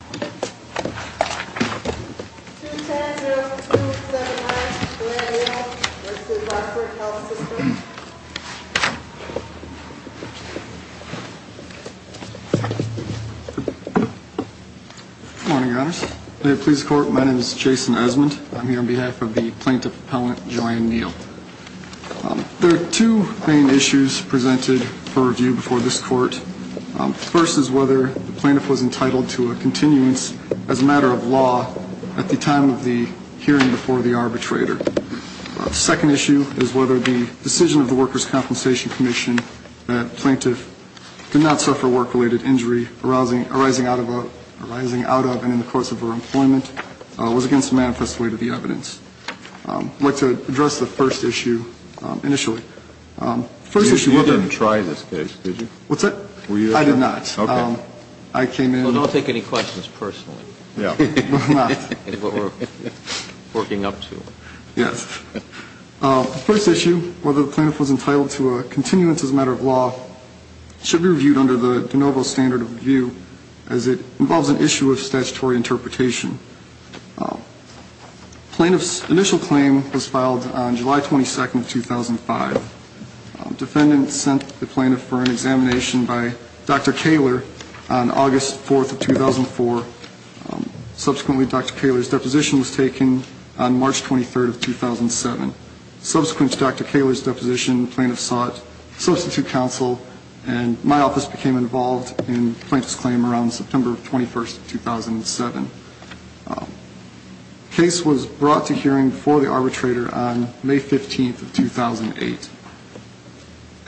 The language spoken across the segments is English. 210-0279, Joanne Neal. This is Oxford Health System. Good morning, Your Honors. In the police court, my name is Jason Esmond. I'm here on behalf of the plaintiff's appellant, Joanne Neal. There are two main issues presented for review before this court. The first is whether the plaintiff was entitled to a continuance as a matter of law at the time of the hearing before the arbitrator. The second issue is whether the decision of the Workers' Compensation Commission that the plaintiff did not suffer work-related injury arising out of and in the course of her employment was against the manifest way to the evidence. I'd like to address the first issue initially. You didn't try this case, did you? What's that? I did not. I came in. Well, don't take any questions personally. No, I'm not. That's what we're working up to. Yes. The first issue, whether the plaintiff was entitled to a continuance as a matter of law, should be reviewed under the de novo standard of review as it involves an issue of statutory interpretation. The plaintiff's initial claim was filed on July 22, 2005. The defendant sent the plaintiff for an examination by Dr. Kaler on August 4, 2004. Subsequently, Dr. Kaler's deposition was taken on March 23, 2007. Subsequent to Dr. Kaler's deposition, the plaintiff sought substitute counsel, and my office became involved in the plaintiff's claim around September 21, 2007. The case was brought to hearing before the arbitrator on May 15, 2008.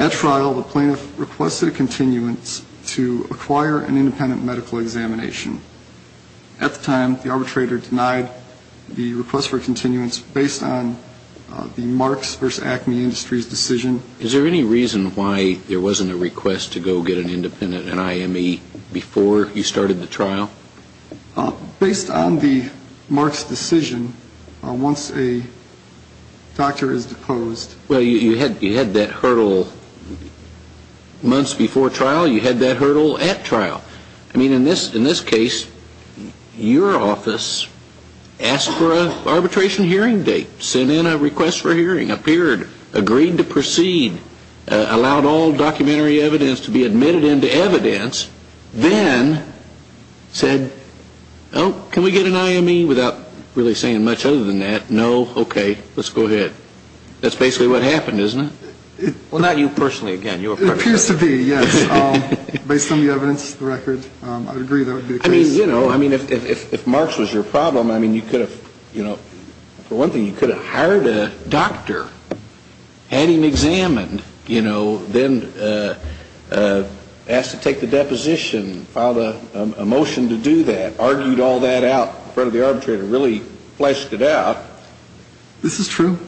At trial, the plaintiff requested a continuance to acquire an independent medical examination. At the time, the arbitrator denied the request for a continuance based on the Marks v. Acme Industries decision. Is there any reason why there wasn't a request to go get an independent NIME before you started the trial? Based on the Marks decision, once a doctor is deposed. Well, you had that hurdle months before trial, you had that hurdle at trial. I mean, in this case, your office asked for an arbitration hearing date, sent in a request for hearing, appeared, agreed to proceed, allowed all documentary evidence to be admitted into evidence, then said, oh, can we get an IME without really saying much other than that, no, okay, let's go ahead. That's basically what happened, isn't it? Well, not you personally, again. It appears to be, yes. Based on the evidence, the record, I would agree that would be the case. I mean, you know, if Marks was your problem, I mean, you could have, you know, for one thing, you could have hired a doctor, had him examined, you know, then asked to take the deposition, filed a motion to do that, argued all that out in front of the arbitrator, really fleshed it out. This is true.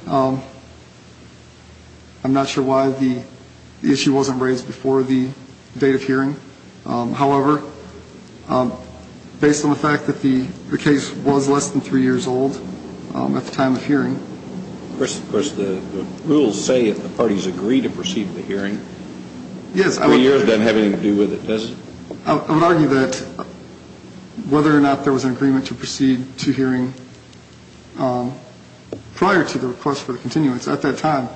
I'm not sure why the issue wasn't raised before the date of hearing. However, based on the fact that the case was less than three years old at the time of hearing. Of course, the rules say that the parties agree to proceed with the hearing. Yes. Three years doesn't have anything to do with it, does it? I would argue that whether or not there was an agreement to proceed to hearing prior to the request for the continuance, at that time,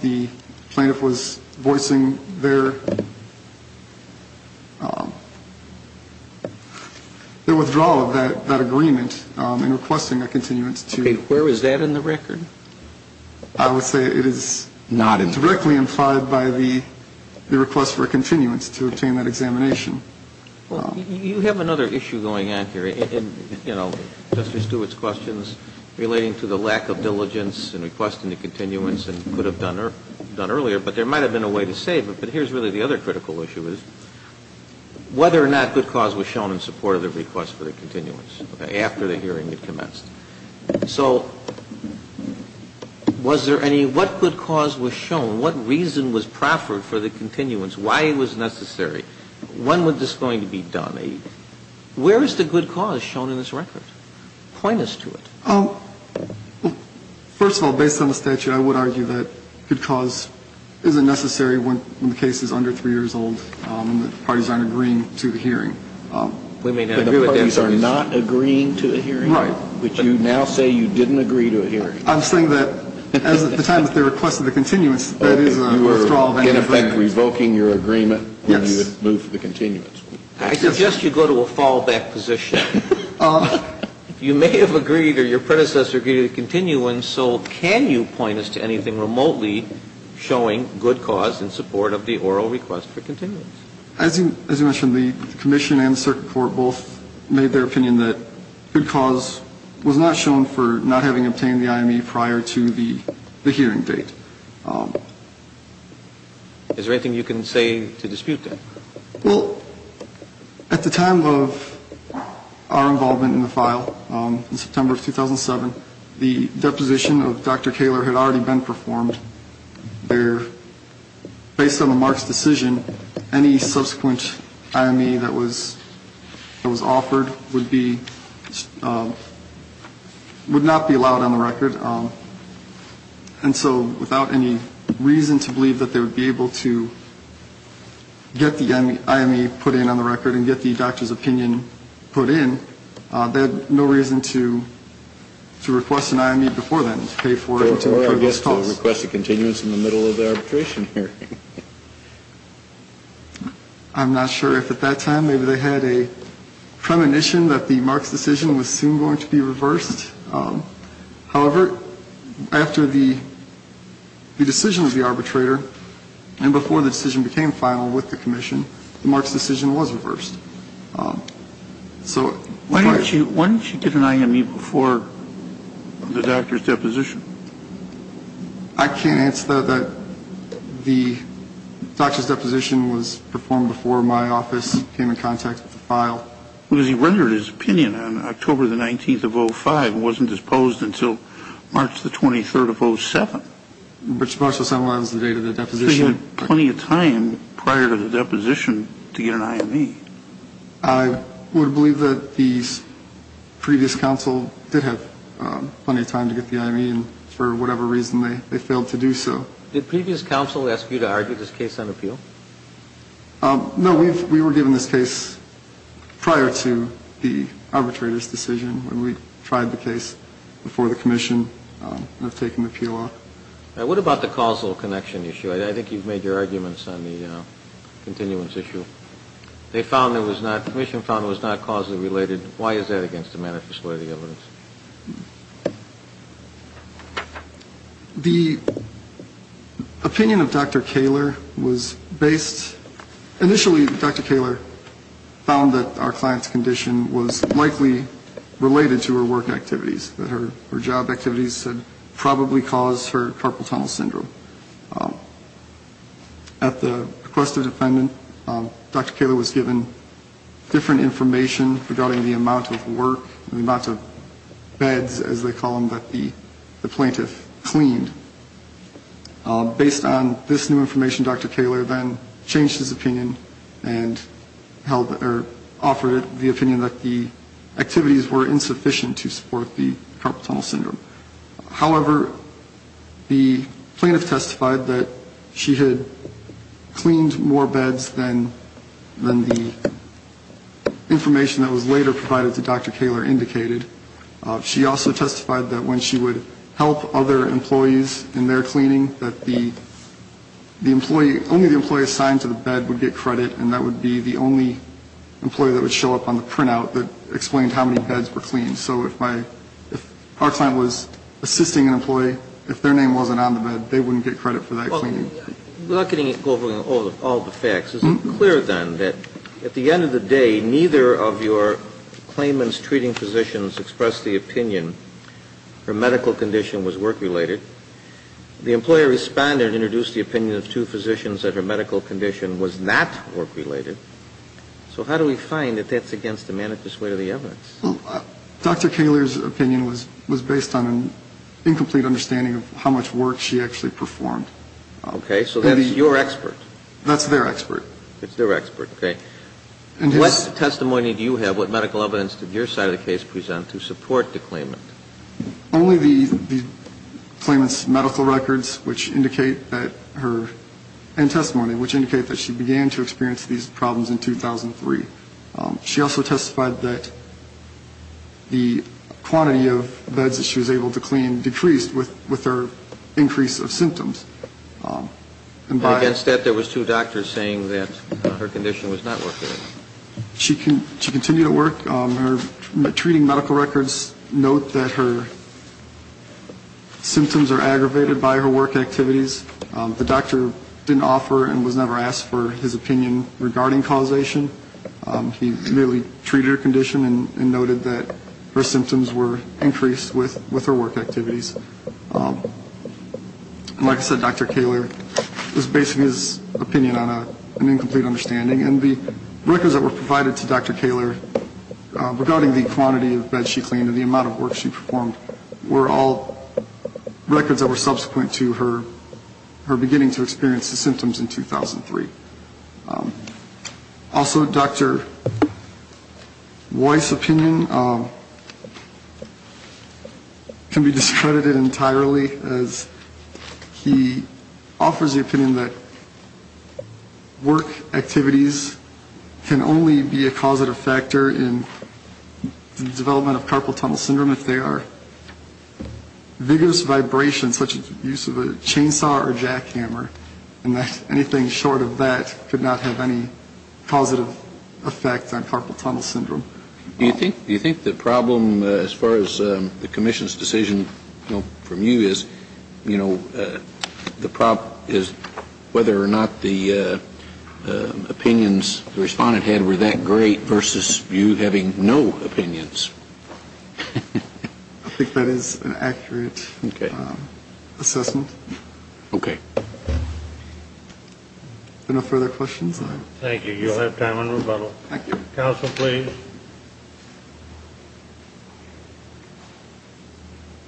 the plaintiff was voicing their withdrawal of that agreement in requesting a continuance to. Okay. Where was that in the record? I would say it is directly implied by the request for a continuance to obtain that examination. Well, you have another issue going on here. And, you know, Justice Stewart's questions relating to the lack of diligence in requesting the continuance and could have done earlier, but there might have been a way to save it. But here's really the other critical issue is whether or not good cause was shown in support of the request for the continuance after the hearing had commenced. So was there any, what good cause was shown? What reason was proffered for the continuance? Why it was necessary? When was this going to be done? Where is the good cause shown in this record? Point us to it. First of all, based on the statute, I would argue that good cause isn't necessary when the case is under 3 years old and the parties aren't agreeing to the hearing. We may not agree with that. But the parties are not agreeing to the hearing? Right. But you now say you didn't agree to a hearing. I'm saying that at the time of the request for the continuance, that is a withdrawal of anything. In effect, revoking your agreement when you move to the continuance. I suggest you go to a fallback position. You may have agreed or your predecessor agreed to the continuance, so can you point us to anything remotely showing good cause in support of the oral request for continuance? As you mentioned, the commission and the circuit court both made their opinion that good cause was not shown in the oral request for continuance. I would also argue that there is no reason for not having obtained the IME prior to the hearing date. Is there anything you can say to dispute that? Well, at the time of our involvement in the file, in September of 2007, the deposition of Dr. Kaler had already been performed. Based on the marks decision, any subsequent IME that was offered would not be allowed on the record. And so without any reason to believe that they would be able to get the IME put in on the record and get the doctor's opinion put in, they had no reason to request an IME before then. Before, I guess, to request a continuance in the middle of the arbitration hearing. I'm not sure if at that time maybe they had a premonition that the marks decision was soon going to be reversed. However, after the decision of the arbitrator and before the decision became final with the commission, the marks decision was reversed. Why didn't you get an IME before the doctor's deposition? I can't answer that. The doctor's deposition was performed before my office came in contact with the file. Because he rendered his opinion on October the 19th of 05 and wasn't disposed until March the 23rd of 07. Which also symbolizes the date of the deposition. So he had plenty of time prior to the deposition to get an IME. I would believe that the previous counsel did have plenty of time to get the IME, and for whatever reason they failed to do so. Did previous counsel ask you to argue this case on appeal? No, we were given this case prior to the arbitrator's decision when we tried the case before the commission of taking the appeal off. What about the causal connection issue? I think you've made your arguments on the continuance issue. They found it was not, the commission found it was not causally related. Why is that against the manifesto of the evidence? The opinion of Dr. Kaler was based, initially Dr. Kaler found that our client's condition was likely related to her work activities. That her job activities had probably caused her carpal tunnel syndrome. At the request of the defendant, Dr. Kaler was given different information regarding the amount of work, the amount of beds, as they call them, that the plaintiff cleaned. Based on this new information, Dr. Kaler then changed his opinion and offered the opinion that the activities were insufficient to support the carpal tunnel syndrome. However, the plaintiff testified that she had cleaned more beds than the information that was later provided to Dr. Kaler indicated. She also testified that when she would help other employees in their cleaning, that only the employee assigned to the bed would get credit and that would be the only employee that would show up on the printout that explained how many beds were cleaned. So if our client was assisting an employee, if their name wasn't on the bed, they wouldn't get credit for that cleaning. Without getting into all the facts, is it clear then that at the end of the day, neither of your claimant's treating physicians expressed the opinion her medical condition was work-related? The employer responded and introduced the opinion of two physicians that her medical condition was not work-related. So how do we find that that's against the manifest way of the evidence? Dr. Kaler's opinion was based on an incomplete understanding of how much work she actually performed. Okay, so that's your expert. That's their expert. It's their expert, okay. What testimony do you have? What medical evidence did your side of the case present to support the claimant? Only the claimant's medical records and testimony, which indicate that she began to experience these problems in 2003. She also testified that the quantity of beds that she was able to clean decreased with her increase of symptoms. Against that, there was two doctors saying that her condition was not work-related. She continued to work. Her treating medical records note that her symptoms are aggravated by her work activities. The doctor didn't offer and was never asked for his opinion regarding causation. He merely treated her condition and noted that her symptoms were increased with her work activities. Like I said, Dr. Kaler was basing his opinion on an incomplete understanding. And the records that were provided to Dr. Kaler regarding the quantity of beds she cleaned and the amount of work she performed were all records that were subsequent to her beginning to experience the symptoms in 2003. Also, Dr. Weiss' opinion can be discredited entirely as he offers the opinion that work activities can only be a causative factor in the development of carpal tunnel syndrome if they are vigorous vibrations such as the use of a chainsaw or jackhammer, and that anything short of that could not have any causative effect on carpal tunnel syndrome. Do you think the problem as far as the commission's decision from you is, you know, the problem is whether or not the opinions the Respondent had were that great versus you having no opinions? I think that is an accurate assessment. Okay. Are there no further questions? Thank you. You'll have time on rebuttal. Thank you. Counsel, please.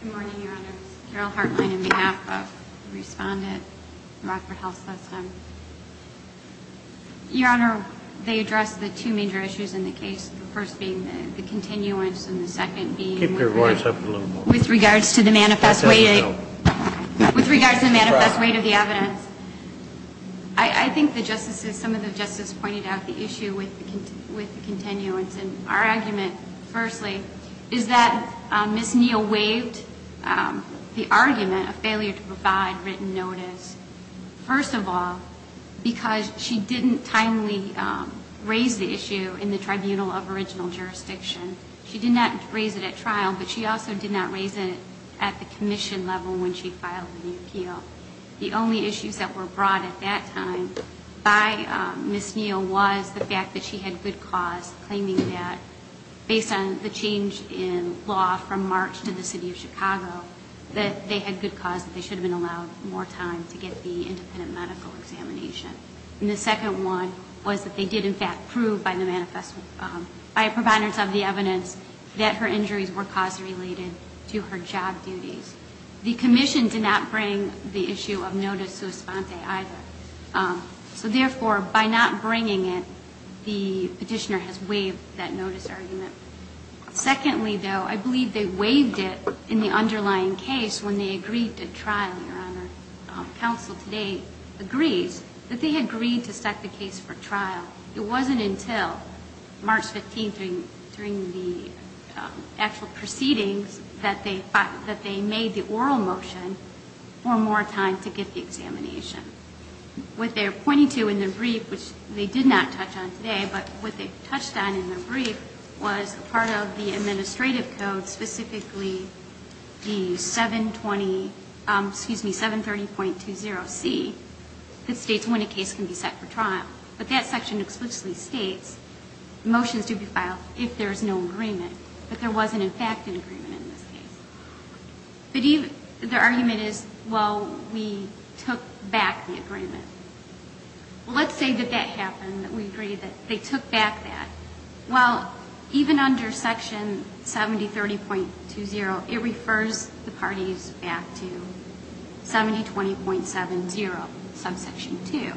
Good morning, Your Honor. This is Carole Hartline on behalf of the Respondent from Rockford Health System. Your Honor, they addressed the two major issues in the case, the first being the continuance and the second being... Keep your voice up a little more. ...with regards to the manifest weight of the evidence. I think the justices, some of the justices pointed out the issue with the continuance, and our argument, firstly, is that Ms. Neal waived the argument of failure to provide written notice. First of all, because she didn't timely raise the issue in the tribunal of original jurisdiction. She did not raise it at trial, but she also did not raise it at the commission level when she filed the appeal. The only issues that were brought at that time by Ms. Neal was the fact that she had good cause, claiming that based on the change in law from March to the city of Chicago, that they had good cause, that they should have been allowed more time to get the independent medical examination. And the second one was that they did, in fact, prove by the manifest, by providers of the evidence, that her injuries were cause-related to her job duties. The commission did not bring the issue of notice sua sponte either. So, therefore, by not bringing it, the Petitioner has waived that notice argument. Secondly, though, I believe they waived it in the underlying case when they agreed at trial, Your Honor. Counsel today agrees that they agreed to set the case for trial. It wasn't until March 15th during the actual proceedings that they made the oral motion for more time to get the examination. What they're pointing to in their brief, which they did not touch on today, but what they touched on in their brief was part of the administrative code, specifically the 720, excuse me, 730.20C, that states when a case can be set for trial. But that section explicitly states motions do be filed if there's no agreement. But there wasn't, in fact, an agreement in this case. The argument is, well, we took back the agreement. Well, let's say that that happened, that we agreed that they took back that. Well, even under Section 7030.20, it refers the parties back to 7020.70, subsection 2,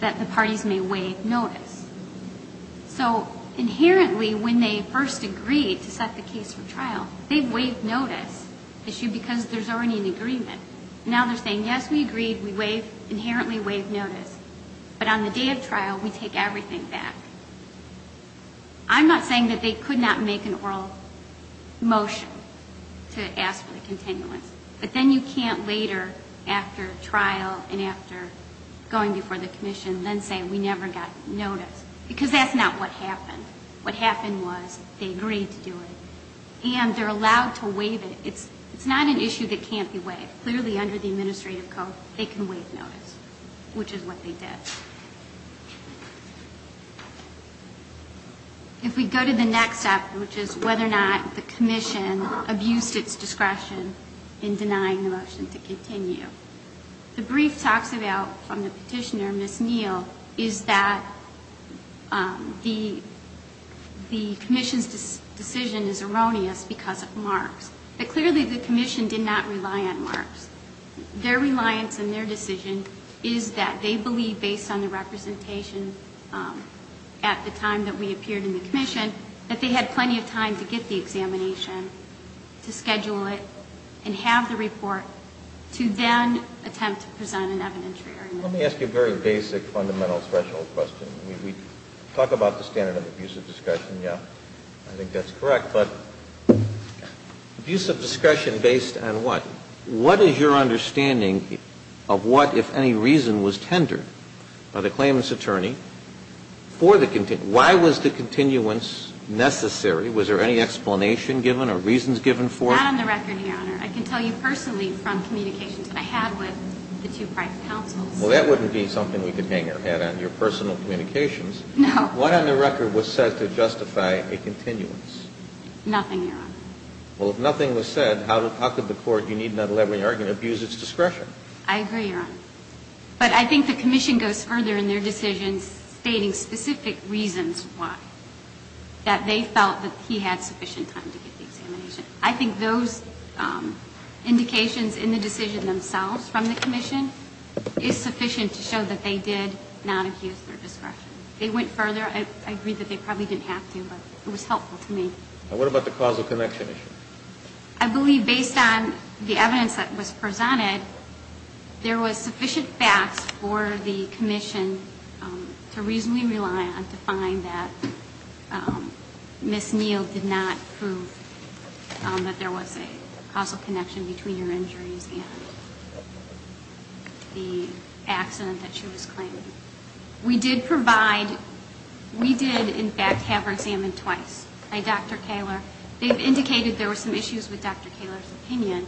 that the parties may waive notice. So inherently, when they first agreed to set the case for trial, they waived notice issue because there's already an agreement. Now they're saying, yes, we agreed, we waived, inherently waived notice, but on the day of trial, we take everything back. I'm not saying that they could not make an oral motion to ask for the continuance. But then you can't later, after trial and after going before the commission, then say we never got notice. Because that's not what happened. What happened was they agreed to do it. And they're allowed to waive it. It's not an issue that can't be waived. Clearly under the administrative code, they can waive notice, which is what they did. If we go to the next step, which is whether or not the commission abused its discretion in denying the motion to continue. The brief talks about, from the petitioner, Ms. Neal, is that the commission's decision is erroneous because of marks. But clearly the commission did not rely on marks. Their reliance and their decision is that they believe, based on the representation at the time that we appeared in the commission, that they had plenty of time to get the examination, to schedule it, and have the report, to then attempt to present an evidentiary argument. Let me ask you a very basic fundamental threshold question. We talk about the standard of abusive discretion. Yeah, I think that's correct. But abusive discretion based on what? What is your understanding of what, if any reason, was tendered by the claimant's attorney for the continuation? Why was the continuance necessary? Was there any explanation given or reasons given for it? Not on the record, Your Honor. I can tell you personally from communications I had with the two private counsels. Well, that wouldn't be something we could hang our head on, your personal communications. No. What on the record was said to justify a continuance? Nothing, Your Honor. Well, if nothing was said, how could the court, you need not allow any argument, abuse its discretion? I agree, Your Honor. But I think the commission goes further in their decisions stating specific reasons why, that they felt that he had sufficient time to get the examination. I think those indications in the decision themselves from the commission is sufficient to show that they did not abuse their discretion. They went further. I agree that they probably didn't have to, but it was helpful to me. What about the causal connection issue? I believe based on the evidence that was presented, there was sufficient facts for the commission to reasonably rely on to find that Ms. Neal did not prove that there was a causal connection between your injuries and the accident that she was claiming. We did provide, we did in fact have her examined twice by Dr. Kaler. They've indicated there were some issues with Dr. Kaler's opinion.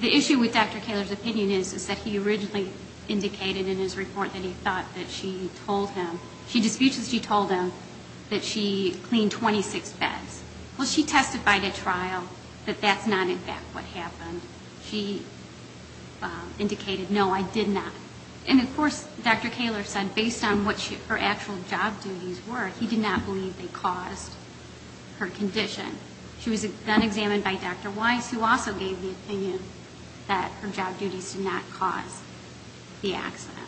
The issue with Dr. Kaler's opinion is that he originally indicated in his report that he thought that she told him, she disputes that she told him that she cleaned 26 beds. Well, she testified at trial that that's not in fact what happened. She indicated, no, I did not. And of course, Dr. Kaler said based on what her actual job duties were, he did not believe they caused her condition. She was then examined by Dr. Weiss who also gave the opinion that her job duties did not cause the accident.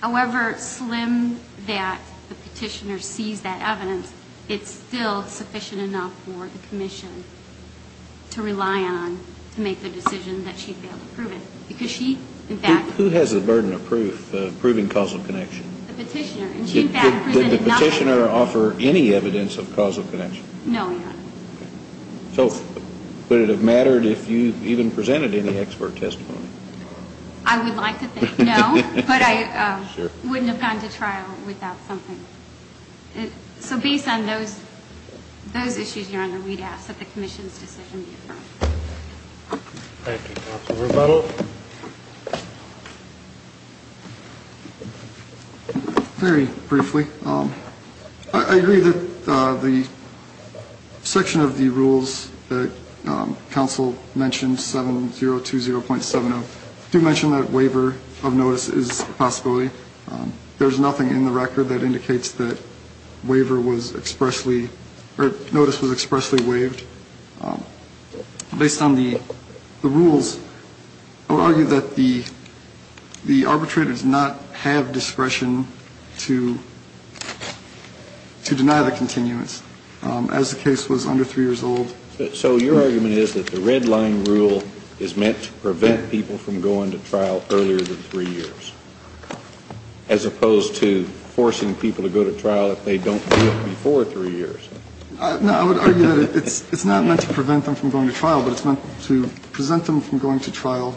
However slim that the petitioner sees that evidence, it's still sufficient enough for the commission to rely on to make the decision that she failed to prove it. Who has the burden of proof of proving causal connection? The petitioner. Did the petitioner offer any evidence of causal connection? No, Your Honor. So would it have mattered if you even presented any expert testimony? I would like to think no, but I wouldn't have gone to trial without something. So based on those issues, Your Honor, we'd ask that the commission's decision be affirmed. Thank you. Counsel Rebuttal. Very briefly. I agree that the section of the rules that counsel mentioned 7020.70 do mention that waiver of notice is a possibility. There's nothing in the record that indicates that waiver was expressly or notice was expressly waived. Based on the rules, I would argue that the arbitrator does not have discretion to deny the continuance as the case was under three years old. So your argument is that the red line rule is meant to prevent people from going to trial earlier than three years as opposed to forcing people to go to trial if they don't do it before three years. No, I would argue that it's not meant to prevent them from going to trial, but it's meant to present them from going to trial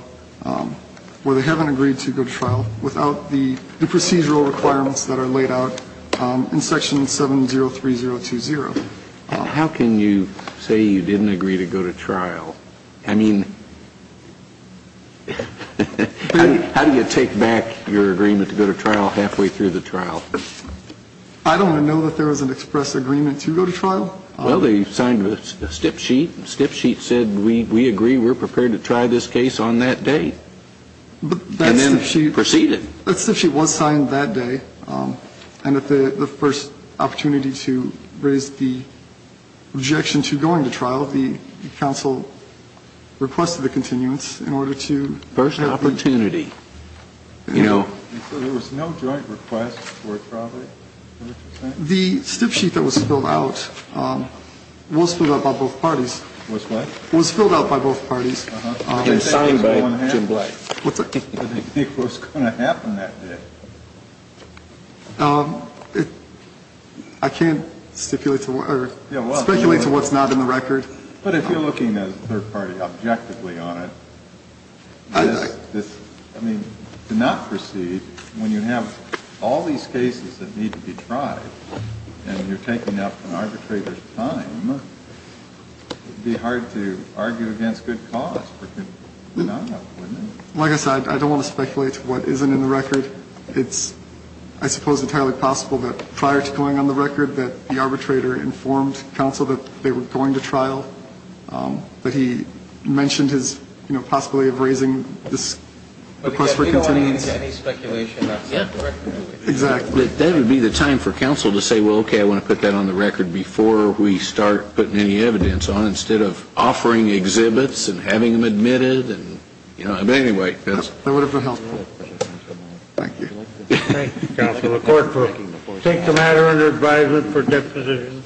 where they haven't agreed to go to trial without the procedural requirements that are laid out in section 703020. How can you say you didn't agree to go to trial? I mean, how do you take back your agreement to go to trial halfway through the trial? I don't know that there was an express agreement to go to trial. Well, they signed a stiff sheet. Stiff sheet said, we agree. We're prepared to try this case on that day. But then she proceeded. She was signed that day. And at the first opportunity to raise the objection to going to trial, the council requested the continuance in order to first opportunity. You know, there was no joint request for it. Probably the stiff sheet that was filled out was filled out by both parties. It was filled out by both parties. It was going to happen that day. I can't stipulate to speculate to what's not in the record. But if you're looking at third party objectively on it. I mean, to not proceed when you have all these cases that need to be tried and you're taking up an arbitrator's time, it would be hard to argue against good cause. Like I said, I don't want to speculate what isn't in the record. It's, I suppose, entirely possible that prior to going on the record that the arbitrator informed counsel that they were going to trial, that he mentioned his possibility of raising this request for continuance. Exactly. That would be the time for counsel to say, well, okay, I want to put that on the record before we start putting any evidence on it, instead of offering exhibits and having them admitted. And, you know, anyway. That would have been helpful. Thank you. Thank you, counsel. The court will take the matter under advisement for deposition.